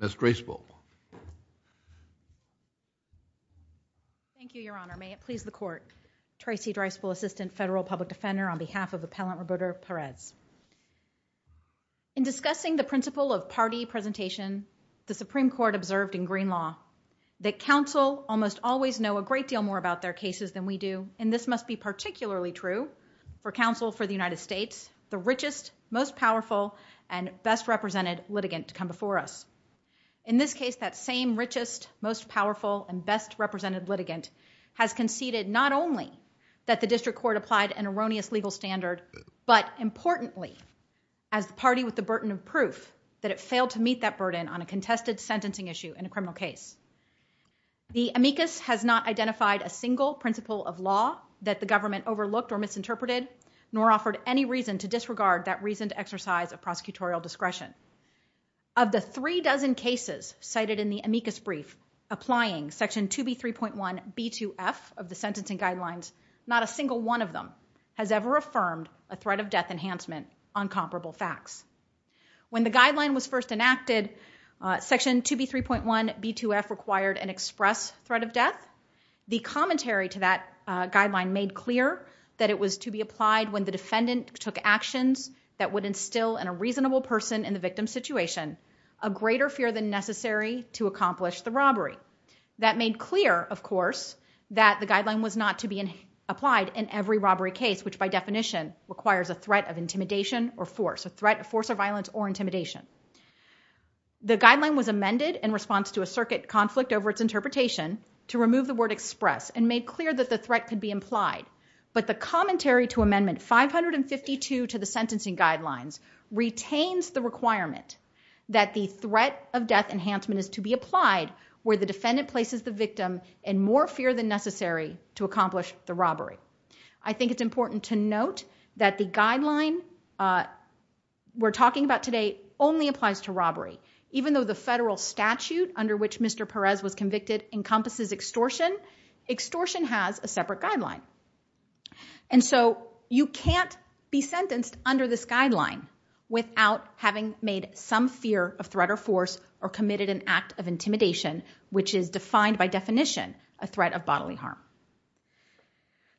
Ms. Dreisbull. Thank you, Your Honor. May it please the Court. Tracy Dreisbull, Assistant Federal Public Defender, on behalf of Appellant Roberto Perez. In discussing the principle of party presentation, the Supreme Court observed in green law that counsel almost always know a great deal more about their cases than we do, and this must be particularly true for counsel for the United States, the richest, most powerful, and best represented litigant to come before us. In this case, that same richest, most powerful, and best represented litigant has conceded not only that the District Court applied an erroneous legal standard, but importantly, as the party with the burden of proof that it failed to meet that burden on a contested sentencing issue in a criminal case. The amicus has not identified a single principle of law that the government overlooked or misinterpreted, nor offered any reason to disregard that reasoned exercise of prosecutorial discretion. Of the three dozen cases cited in the amicus brief applying Section 2B3.1b2f of the sentencing guidelines, not a single one of them has ever affirmed a threat of death enhancement on comparable facts. When the guideline was first enacted, Section 2B3.1b2f required an express threat of death. The commentary to that guideline made clear that it was to be applied when the defendant took actions that would instill in a reasonable person in the victim's situation a greater fear than necessary to accomplish the robbery. That made clear, of course, that the guideline was not to be applied in every robbery case, which by definition requires a threat of intimidation or force, a threat of force or violence or intimidation. The guideline was amended in response to a circuit conflict over its interpretation to remove the word express and made clear that the threat could be implied. But the commentary to Amendment 552 to the sentencing guidelines retains the requirement that the threat of death enhancement is to be applied where the defendant places the victim in more fear than necessary to accomplish the robbery. I think it's important to note that the guideline we're talking about today only applies to robbery. Even though the federal statute under which Mr. Perez was convicted encompasses extortion, extortion has a separate guideline. And so you can't be sentenced under this guideline without having made some fear of threat or force or committed an act of intimidation, which is defined by definition a threat of bodily harm.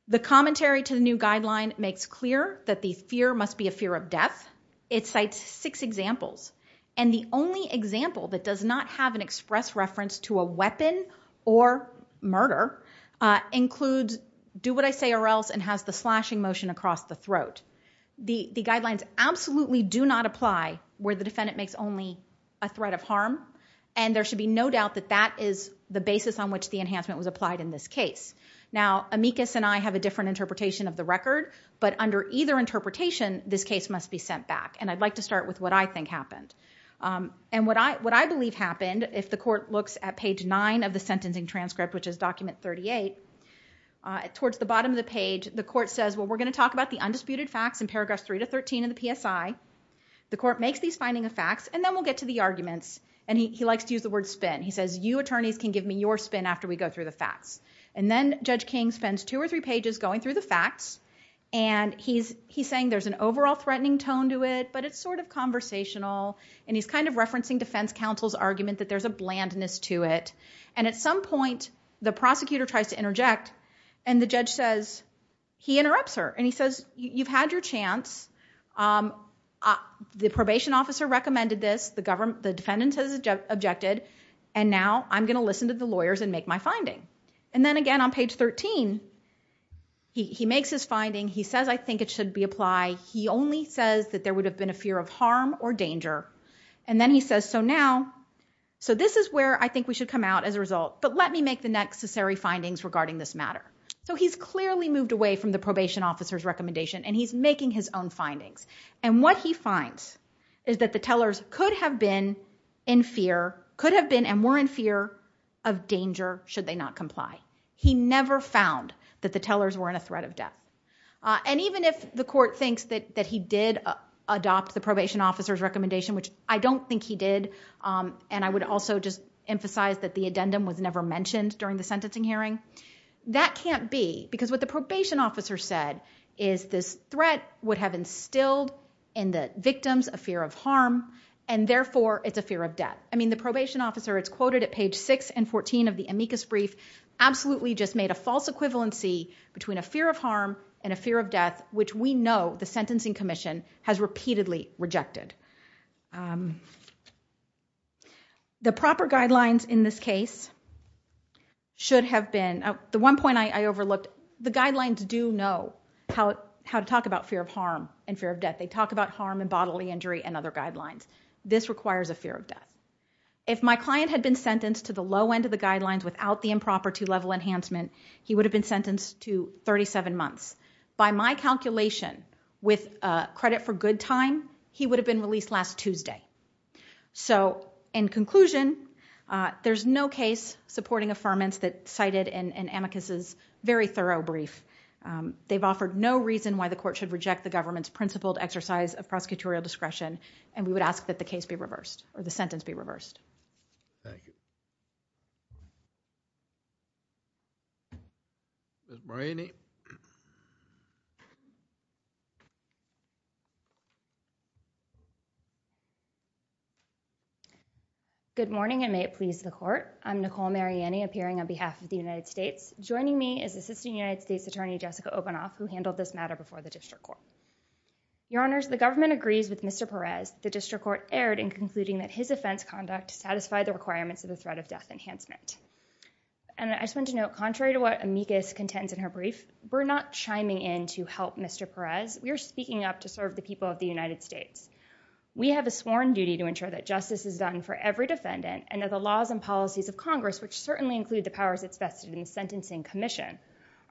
The commentary to the new guideline makes clear that the fear must be a fear of death. It cites six examples. And the only example that does not have an express reference to a weapon or murder includes do what I say or else and has the slashing motion across the throat. The guidelines absolutely do not apply where the defendant makes only a threat of harm. And there should be no doubt that that is the basis on which the enhancement was applied in this case. Now, Amicus and I have a different interpretation of the record, but under either interpretation, this case must be sent back. And I'd like to start with what I think happened. And what I believe happened, if the court looks at page 9 of the sentencing transcript, which is document 38, towards the bottom of the page, the court says, well, we're going to talk about the undisputed facts in paragraphs 3 to 13 in the PSI. The court makes these finding of facts, and then we'll get to the arguments. And he likes to use the word spin. He says, you attorneys can give me your spin after we go through the facts. And then Judge King spends two or three pages going through the facts. And he's saying there's an overall threatening tone to it, but it's sort of conversational. And he's kind of referencing defense counsel's argument that there's a blandness to it. And at some point, the prosecutor tries to interject, and the judge says, he interrupts her. And he says, you've had your chance. The probation officer recommended this. The defendant has objected. And now I'm going to listen to the lawyers and make my finding. And then again on page 13, he makes his finding. He says, I think it should be applied. He only says that there would have been a fear of harm or danger. And then he says, so now, so this is where I think we should come out as a result. But let me make the necessary findings regarding this matter. So he's clearly moved away from the probation officer's recommendation, and he's making his own findings. And what he finds is that the tellers could have been in fear, of danger, should they not comply. He never found that the tellers were in a threat of death. And even if the court thinks that he did adopt the probation officer's recommendation, which I don't think he did, and I would also just emphasize that the addendum was never mentioned during the sentencing hearing, that can't be, because what the probation officer said is this threat would have instilled in the victims a fear of harm, and therefore, it's a fear of death. I mean, the probation officer, it's quoted at page 6 and 14 of the amicus brief, absolutely just made a false equivalency between a fear of harm and a fear of death, which we know the sentencing commission has repeatedly rejected. The proper guidelines in this case should have been, the one point I overlooked, the guidelines do know how to talk about fear of harm and fear of death. They talk about harm and bodily injury and other guidelines. This requires a fear of death. If my client had been sentenced to the low end of the guidelines without the improper two-level enhancement, he would have been sentenced to 37 months. By my calculation, with credit for good time, he would have been released last Tuesday. So, in conclusion, there's no case supporting affirmance that's cited in amicus's very thorough brief. They've offered no reason why the court should reject the government's principled exercise of prosecutorial discretion, and I ask that the case be reversed, or the sentence be reversed. Thank you. Ms. Mariani. Good morning, and may it please the court. I'm Nicole Mariani, appearing on behalf of the United States. Joining me is Assistant United States Attorney Jessica Obanoff, who handled this matter before the district court. Your Honors, the government agrees with Mr. Perez and the court erred in concluding that his offense conduct satisfied the requirements of the threat of death enhancement. And I just want to note, contrary to what amicus contends in her brief, we're not chiming in to help Mr. Perez. We are speaking up to serve the people of the United States. We have a sworn duty to ensure that justice is done for every defendant and that the laws and policies of Congress, which certainly include the powers vested in the Sentencing Commission,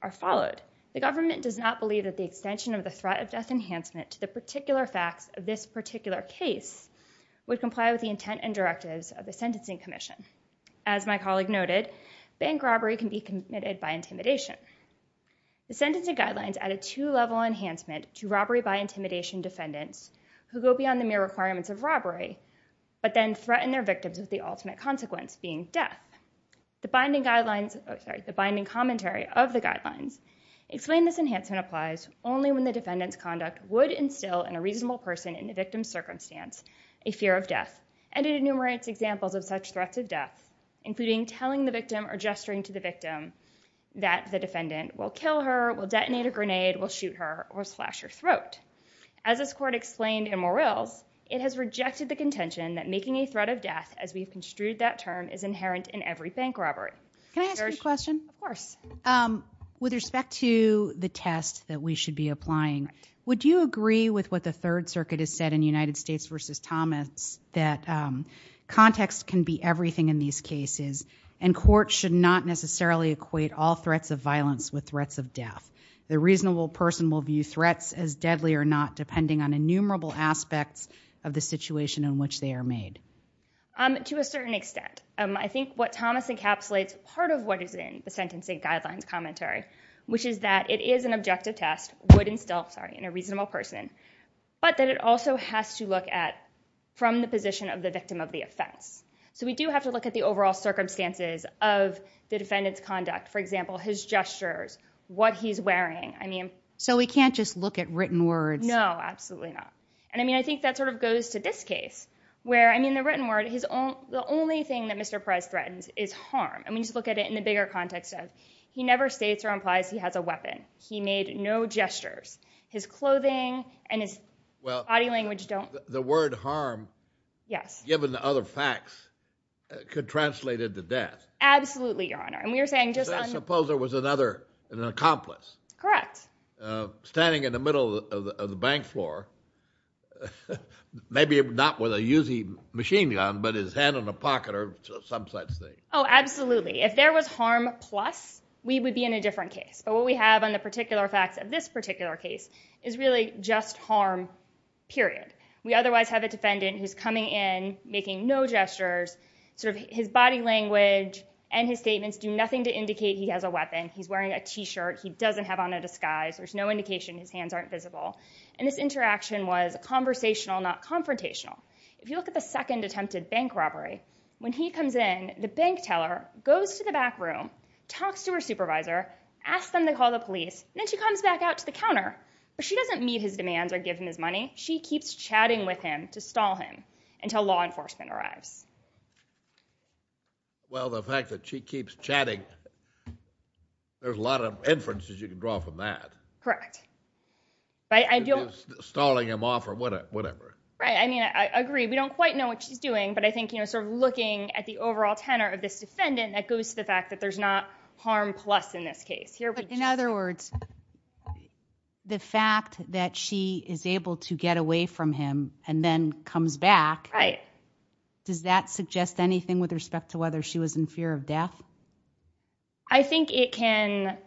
are followed. The government does not believe that the extension of the threat of death enhancement to the particular facts of this particular case would comply with the intent and directives of the Sentencing Commission. As my colleague noted, bank robbery can be committed by intimidation. The sentencing guidelines add a two-level enhancement to robbery by intimidation defendants who go beyond the mere requirements of robbery, but then threaten their victims with the ultimate consequence, being death. The binding commentary of the guidelines explain this enhancement applies only when the defendant's conduct should instill in a reasonable person in the victim's circumstance a fear of death. And it enumerates examples of such threats of death, including telling the victim or gesturing to the victim that the defendant will kill her, will detonate a grenade, will shoot her, or will slash her throat. As this court explained in Morell's, it has rejected the contention that making a threat of death, as we've construed that term, is inherent in every bank robbery. Can I ask you a question? Of course. With respect to the test that we should be applying, I agree with what the Third Circuit has said in United States v. Thomas that context can be everything in these cases, and courts should not necessarily equate all threats of violence with threats of death. The reasonable person will view threats as deadly or not depending on innumerable aspects of the situation in which they are made. To a certain extent. I think what Thomas encapsulates part of what is in the sentencing guidelines commentary, which is that it is an objective test, would instill, sorry, that it is an objective test, but that it also has to look at from the position of the victim of the offense. So we do have to look at the overall circumstances of the defendant's conduct, for example, his gestures, what he's wearing. So we can't just look at written words? No, absolutely not. And I think that sort of goes to this case, where the written word, the only thing that Mr. Price threatens is harm. And we need to look at it in the bigger context of he never states or implies he has a weapon. He made no gestures. And his body language don't... Well, the word harm, given the other facts, could translate into death. Absolutely, Your Honor. Suppose there was another, an accomplice. Correct. Standing in the middle of the bank floor, maybe not with a Uzi machine gun, but his hand in a pocket or some such thing. Oh, absolutely. If there was harm plus, we would be in a different case. But what we have on the particular facts is the word harm, period. We otherwise have a defendant who's coming in, making no gestures. His body language and his statements do nothing to indicate he has a weapon. He's wearing a T-shirt. He doesn't have on a disguise. There's no indication his hands aren't visible. And this interaction was conversational, not confrontational. If you look at the second attempted bank robbery, when he comes in, the bank teller goes to the back room, talks to her supervisor, asks them to call the police, and she gives him his money. She keeps chatting with him to stall him until law enforcement arrives. Well, the fact that she keeps chatting, there's a lot of inferences you can draw from that. Correct. Stalling him off or whatever. Right, I mean, I agree. We don't quite know what she's doing, but I think looking at the overall tenor of this defendant, that goes to the fact that there's not harm plus in this case. In other words, the fact that she is able to get away from him and then comes back, does that suggest anything with respect to whether she was in fear of death? I think it can.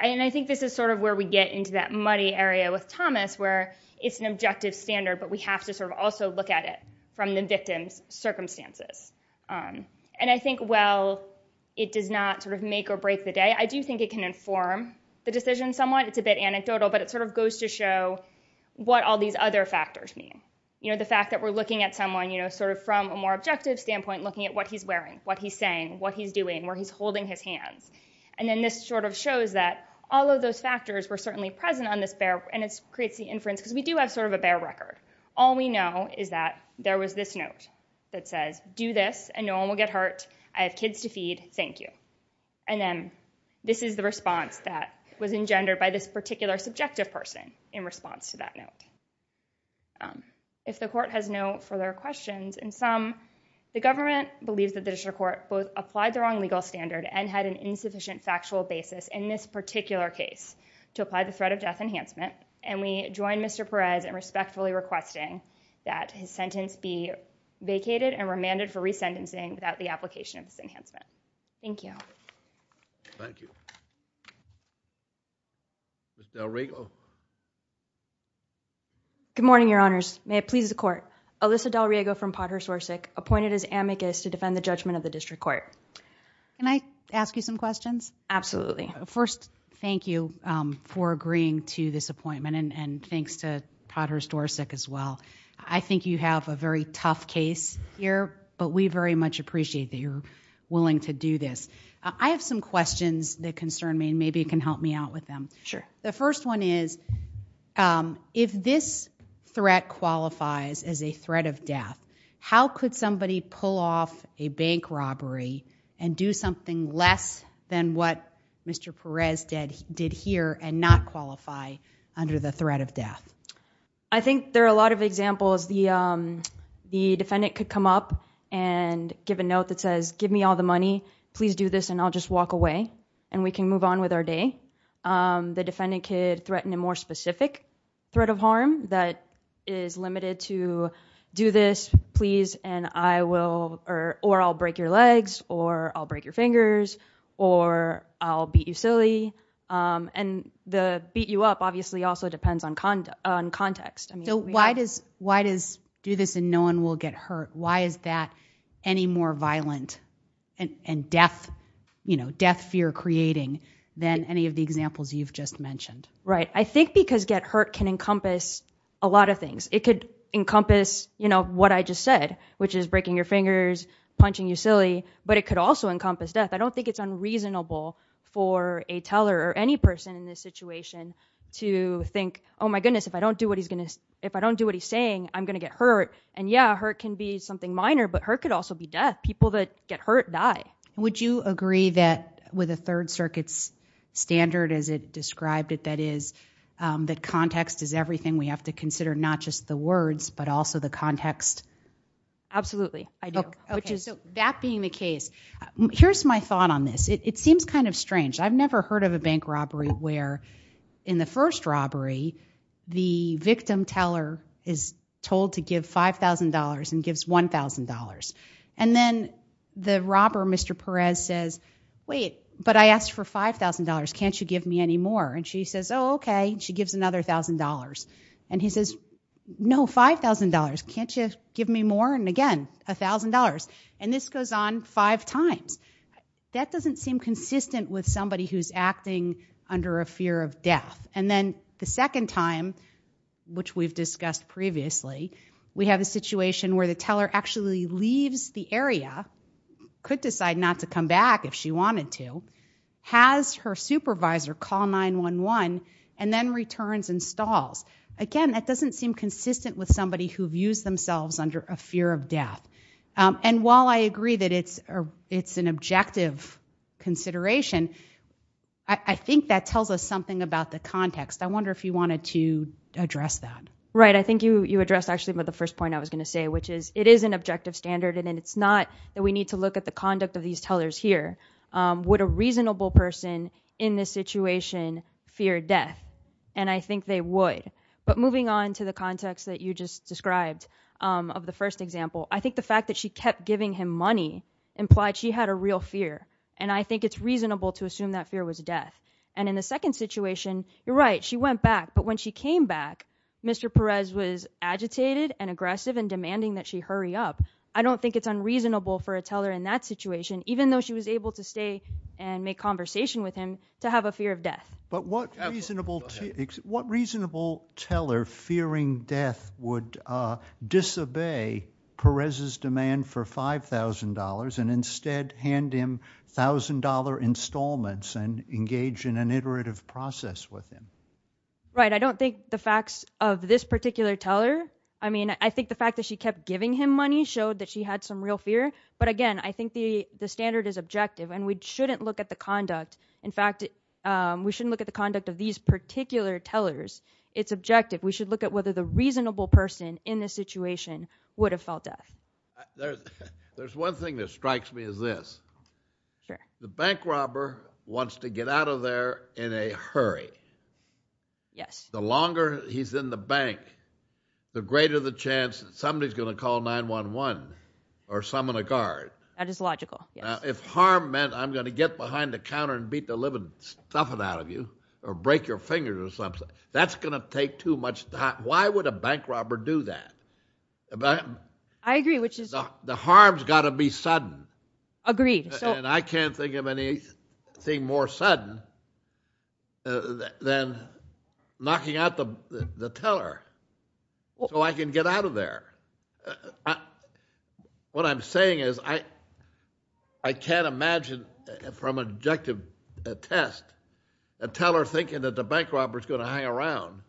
And I think this is sort of where we get into that muddy area with Thomas where it's an objective standard, but we have to sort of also look at it from the victim's circumstances. And I think while it does not sort of make or break the day, and inform the decision somewhat, it's a bit anecdotal, but it sort of goes to show what all these other factors mean. The fact that we're looking at someone sort of from a more objective standpoint, looking at what he's wearing, what he's saying, what he's doing, where he's holding his hands. And then this sort of shows that all of those factors were certainly present on this bear, and it creates the inference because we do have sort of a bear record. All we know is that there was this note that says, do this and no one will get hurt. And this is a response that was engendered by this particular subjective person in response to that note. If the court has no further questions, in sum, the government believes that the district court both applied the wrong legal standard and had an insufficient factual basis in this particular case to apply the threat of death enhancement, and we join Mr. Perez in respectfully requesting that his sentence be vacated and remanded for resentencing without the application of this enhancement. Thank you. Ms. DelRiego. Good morning, Your Honors. May it please the court, Alyssa DelRiego from Potter's Dorset appointed as amicus to defend the judgment of the district court. Can I ask you some questions? Absolutely. First, thank you for agreeing to this appointment, and thanks to Potter's Dorset as well. I think you have a very tough case here, but we very much appreciate that you're willing to do this. Maybe you can help me out with them. Sure. The first one is, if this threat qualifies as a threat of death, how could somebody pull off a bank robbery and do something less than what Mr. Perez did here and not qualify under the threat of death? I think there are a lot of examples. The defendant could come up and give a note that says, give me all the money, please do this, and I'll just walk away, and we can move on with our day. The defendant could threaten a more specific threat of harm that is limited to, do this, please, or I'll break your legs, or I'll break your fingers, or I'll beat you silly. The beat you up obviously also depends on context. Why does do this and no one will get hurt? Why is that any more violent and death fear creating than any of the examples you've just mentioned? I think because get hurt can encompass a lot of things. It could encompass what I just said, which is breaking your fingers, punching you silly, but it could also encompass death. I don't think it's unreasonable for a teller or any person in this situation to think, oh my goodness, if I don't do what he's saying, I'm going to get hurt. Would you agree that with the Third Circuit's standard as it described it, that context is everything we have to consider, not just the words, but also the context? Absolutely, I do. That being the case, here's my thought on this. It seems kind of strange. I've never heard of a bank robbery where in the first robbery the victim teller is told to give $5,000 whereas says, wait, but I asked for $5,000. Can't you give me any more? She says, oh, okay. She gives another $1,000. He says, no, $5,000. Can't you give me more? Again, $1,000. This goes on five times. That doesn't seem consistent with somebody who's acting under a fear of death. The second time, which we've discussed previously, we have a situation where the victim has to come back if she wanted to, has her supervisor call 911 and then returns and stalls. Again, that doesn't seem consistent with somebody who views themselves under a fear of death. While I agree that it's an objective consideration, I think that tells us something about the context. I wonder if you wanted to address that. Right, I think you addressed actually the first point that was here. Would a reasonable person in this situation fear death? I think they would. Moving on to the context that you just described of the first example, I think the fact that she kept giving him money implied she had a real fear. I think it's reasonable to assume that fear was death. In the second situation, you're right, she went back. When she came back, she was able to stay and make conversation with him to have a fear of death. But what reasonable teller fearing death would disobey Perez's demand for $5,000 and instead hand him $1,000 installments and engage in an iterative process with him? Right, I don't think the facts of this particular teller, I think the fact that she kept giving him money showed that it's objective. And we shouldn't look at the conduct of these particular tellers. It's objective. We should look at whether the reasonable person in this situation would have felt death. There's one thing that strikes me as this. The bank robber wants to get out of there in a hurry. The longer he's in the bank, the more harm I'm going to get behind the counter and beat the living stuff out of you or break your fingers or something. That's going to take too much time. Why would a bank robber do that? I agree. The harm's got to be sudden. Agreed. I can't think of anything more sudden than knocking out the teller so I can get out of there. I can't imagine from an objective test a teller thinking that the bank robber's going to hang around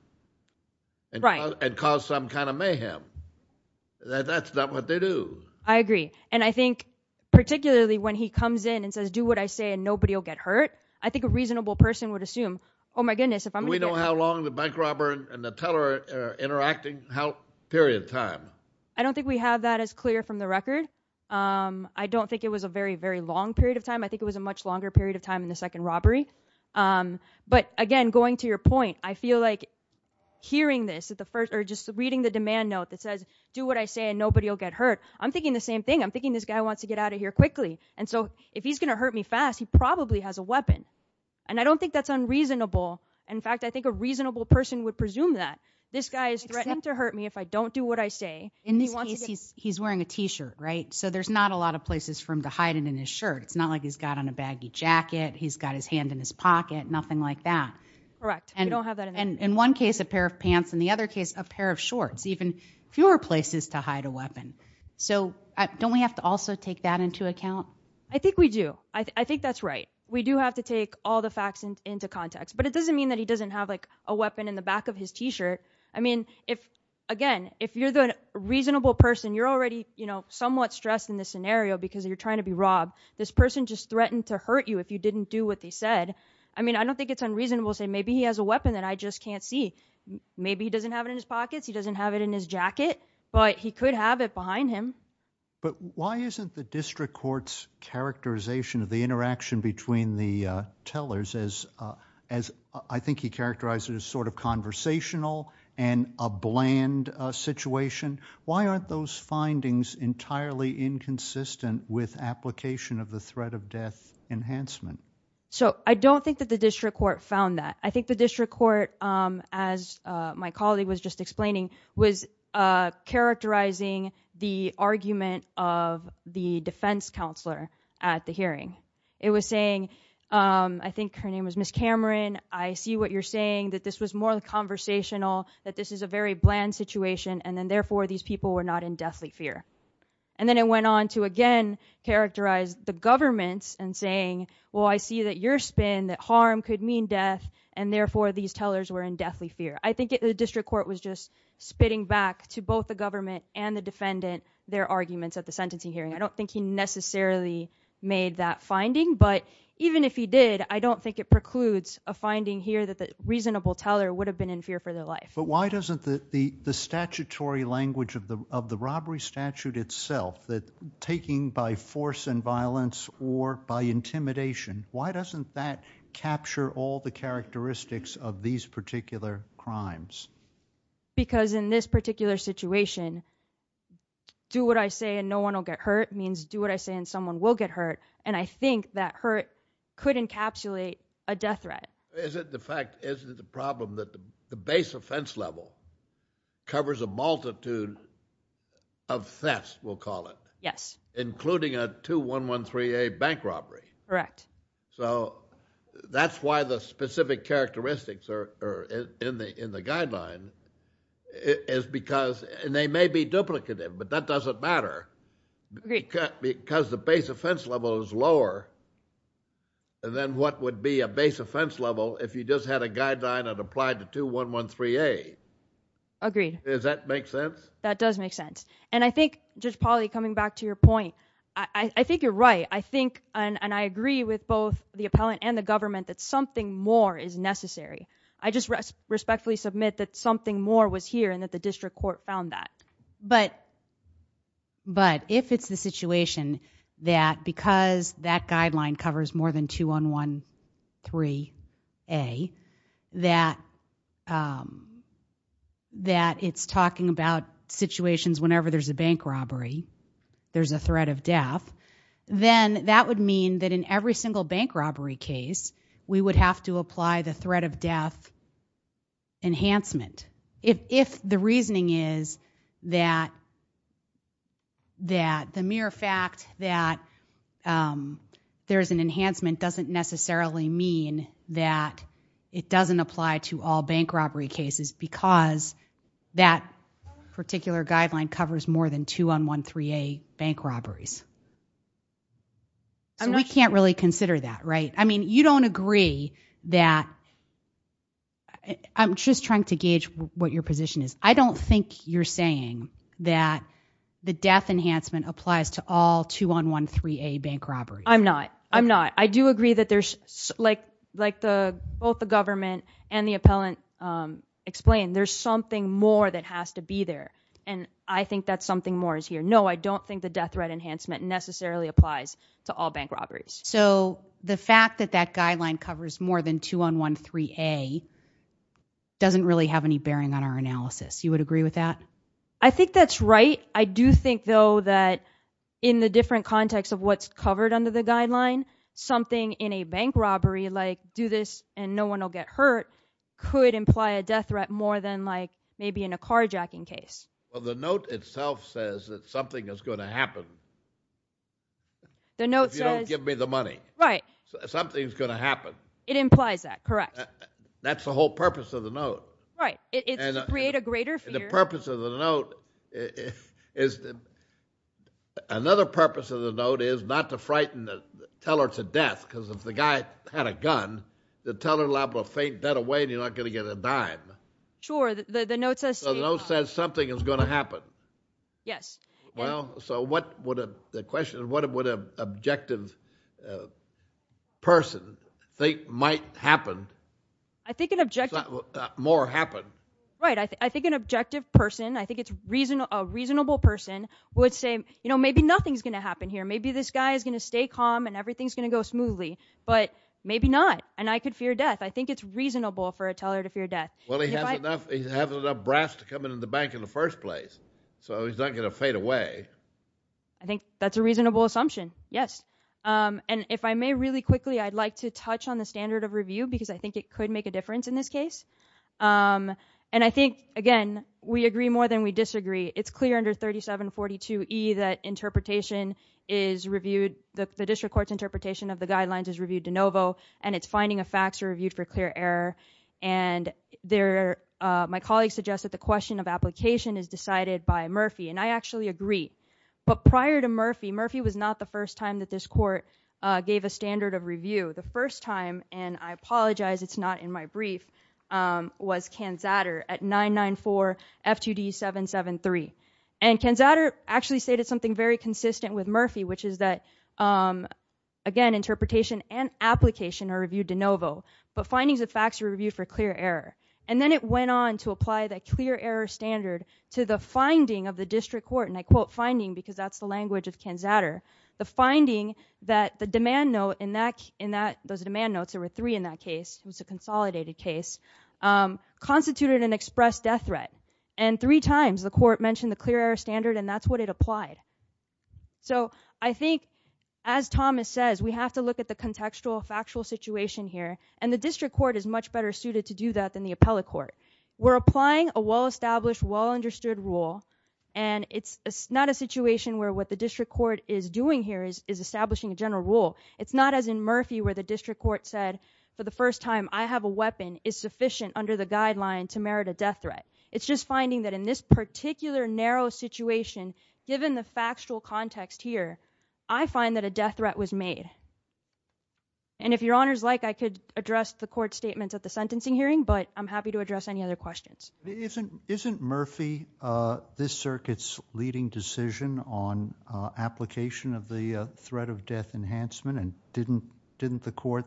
and cause some kind of mayhem. That's not what they do. I agree. And I think particularly when he comes in and says do what I say and nobody will get hurt, I think a reasonable person would assume, oh my goodness, if I'm going to get hurt. Do we know how long the bank robber and the teller are interacting, period of time? I don't think we have that as clear from the record. I don't think it was a very, very long period of time. I think it was a much longer period of time in the second robbery. But again, going to your point, I feel like hearing this or just reading the demand note that says do what I say and nobody will get hurt, I'm thinking the same thing. I'm thinking this guy wants to get out of here quickly. And so if he's going to hurt me fast, he probably has a weapon. And I don't think that's unreasonable. In fact, I think a reasonable person would presume that. This guy is threatening to hurt me if I don't do what I say. In this case, he's wearing a t-shirt, right? So there's not a lot of places for him to hide it in his shirt. It's not like he's got on a baggy jacket. He's got his hand in his pocket, nothing like that. Correct. We don't have that in the record. In one case, a pair of pants. In the other case, a pair of shorts. Even fewer places to hide a weapon. So, don't we have to also take that into account? I think we do. I think that's right. We do have to take all the facts into context. But it doesn't mean that he doesn't have a weapon in the back of his t-shirt. I mean, again, if you're the reasonable person, you're already somewhat stressed in this scenario because you're trying to be robbed. This person just threatened to hurt you if you didn't do what they said. I mean, I don't think it's unreasonable to say, maybe he has a weapon that I just can't see. Maybe he doesn't have it in his pockets, he doesn't have it in his jacket, but he could have it behind him. But, why isn't the district court's characterization of the interaction between the tellers as, as, I think he characterized it as sort of conversational and a bland situation? Why aren't those findings entirely inconsistent with application of the threat of death enhancement? So, I don't think that the district court found that. I think the district court, um, as my colleague was just explaining, was, uh, characterizing the argument of the defense counselor at the hearing. It was saying, um, I think her name was Ms. Cameron, I see what you're saying, that this was more conversational, that this is a very bland situation, and then therefore these people were not in deathly fear. And then it went on to again characterize the governments and saying, well, I see that your spin, that harm could mean death, and therefore these tellers were in deathly fear. I think the district court was just spitting back to both the government and the defendant their arguments at the sentencing hearing. I don't think he necessarily made that finding, but even if he did, I don't think it precludes a finding here that the reasonable teller would have been in death by self-inviolence or by intimidation. Why doesn't that capture all the characteristics of these particular crimes? Because in this particular situation, do what I say and no one will get hurt means do what I say and someone will get hurt, and I think that hurt could encapsulate a death threat. Is the fact that the base offense level covers a multitude of thefts we'll call it. Yes. Including a 2113A bank robbery. Correct. So that's why the specific characteristics are in the guideline is because and they may be duplicative but that doesn't matter because the base offense level is lower than what would be a base offense level if you just had a guideline that applied to 2113A. Agreed. Does that make sense? That does make sense. And I think Judge Polley coming back to your point, I think you're right. I think and I agree with both the appellant and the government that something more is necessary. I just respectfully submit that something more was necessary and that the district court found that. But if it's the situation that because that guideline covers more than 2113A that it's talking about situations whenever there's a bank robbery, there's a threat of death, then that would mean that in every single bank robbery case we would have to apply the threat of death enhancement. If the reasoning is that the mere fact that there's an enhancement doesn't necessarily mean that it doesn't apply to all bank robbery cases because that particular guideline covers more than 2113A bank robberies. So we can't really consider that, right? I mean, you don't agree that I'm just trying to gauge what your position is. I don't think you're saying that the death enhancement applies to all 2113A bank robberies. I'm not. I'm not. I do agree that there's like the, both the government and the appellant explain, there's something more that the death enhancement guideline covers more than 2113A doesn't really have any bearing on our analysis. You would agree with that? I think that's right. I do think, though, that in the different context of what's covered under the guideline, something in a bank robbery, like do this and no one will get hurt, could imply a death threat more than maybe in a car jacking case. The note itself says that something is going to happen if you don't give me the money. Something is going to happen. It implies that, correct? That's the whole purpose of the note. Right. It's to create a greater fear. The purpose of the note is not to frighten the teller to death because if the guy had a gun, the teller will faint dead away and you're not going to get a dime. Sure. The note says something is going to happen. Yes. The question is what would an objective person think might happen? I think an objective person, I think it's a reasonable person, would say maybe nothing is going to happen here, maybe this guy is going to stay calm and everything is going to go smoothly, but maybe not. I could fear death. I think it's reasonable for a teller to fear death. He's having enough brass to come into the bank in the first place so he's not going to fade away. I think that's a reasonable assumption. Yes. And if I may really quickly, I'd like to touch on the standard of review because I think it could make a difference in this case. And I think, again, we agree more than we disagree. It's clear under 3742E that the district court's interpretation of the guidelines is reviewed de novo and it's reviewed again. And the definition of review is reviewed again. And the first time that this court gave a standard of review, the first time, and I apologize, it's not in my brief, was Kanzatter at Lenovo, but findings of facts are reviewed for clear error. And then it went on to apply that clear error standard to the finding of the district court, and I quote finding because that's the language of Kanzatter, the finding that the demand note in that case was a consolidated case, constituted an express death threat, and three times the court mentioned the clear error standard and that's what it applied. So I think as Thomas says, we have to look at the contextual factual situation here, and the district court is much better suited to do that than the appellate court. We're applying a well-established well-understood rule, and it's not a situation where what the district court is doing here is establishing a general rule. It's not as in Murphy where the district court said for the first time I have a weapon is sufficient under the guideline to merit a death threat. It's just finding that in this particular narrow situation, given the factual context here, I find that a death threat was made. And if your honors like, I could address the court statements at the sentencing hearing, but I'm happy to address any other questions. Isn't Murphy this circuit's leading decision on application of the threat of death enhancement in district court? Did the court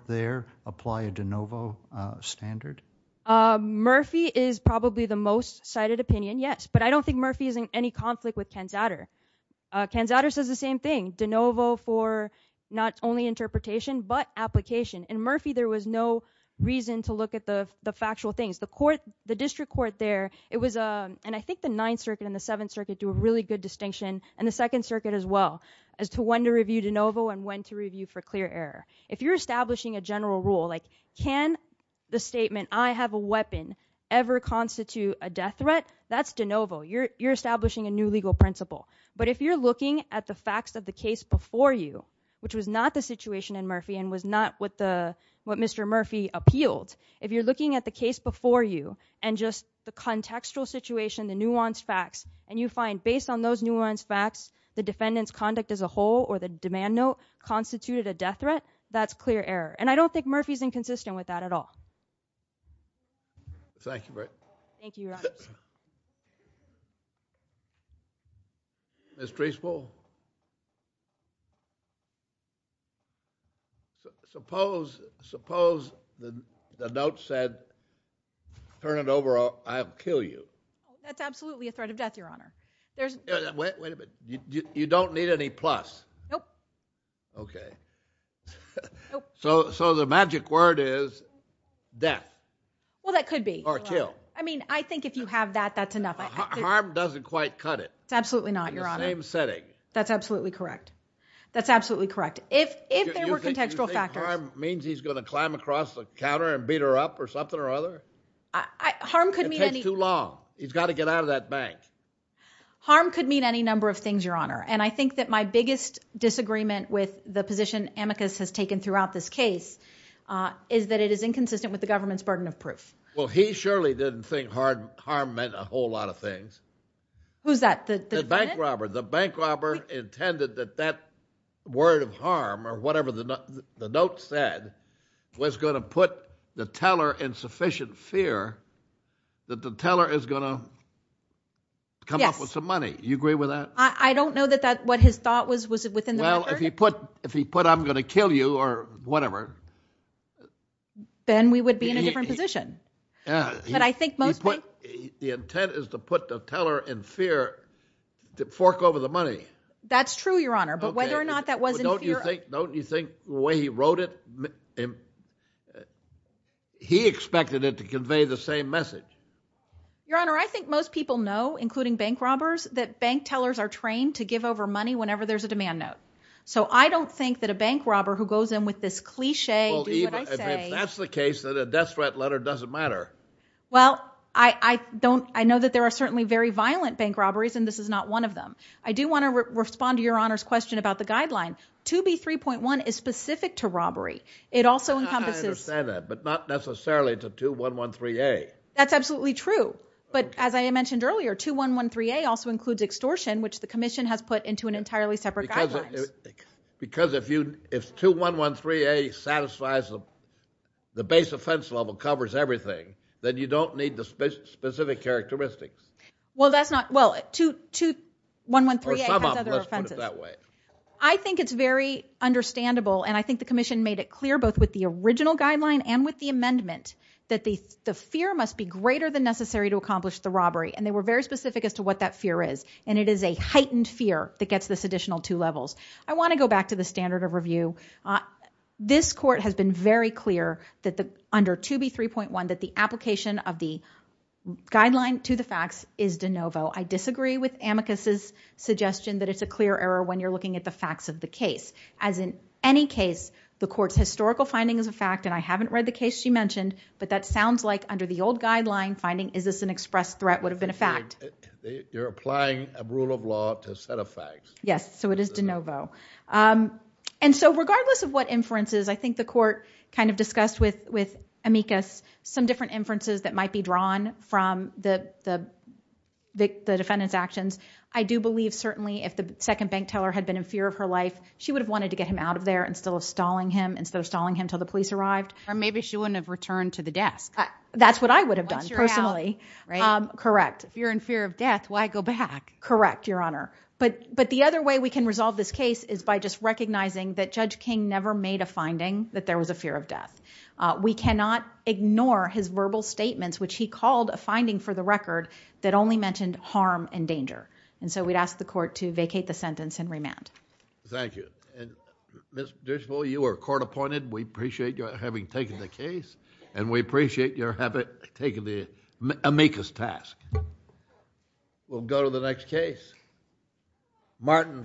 apply a de novo standard? Murphy is probably the most cited opinion, yes, but I don't think Murphy is in any conflict with Kansatter. Kansatter says the same thing. Kansatter says de novo for not only interpretation but application. In Murphy, there was no reason to look at the factual things. The district court there, and I think the ninth circuit and the seventh circuit do a good distinction and the second circuit as well. If you're establishing a general rule, can the statement ever constitute a death threat? That's de novo. You're establishing a new legal principle. If you're looking at the facts of the case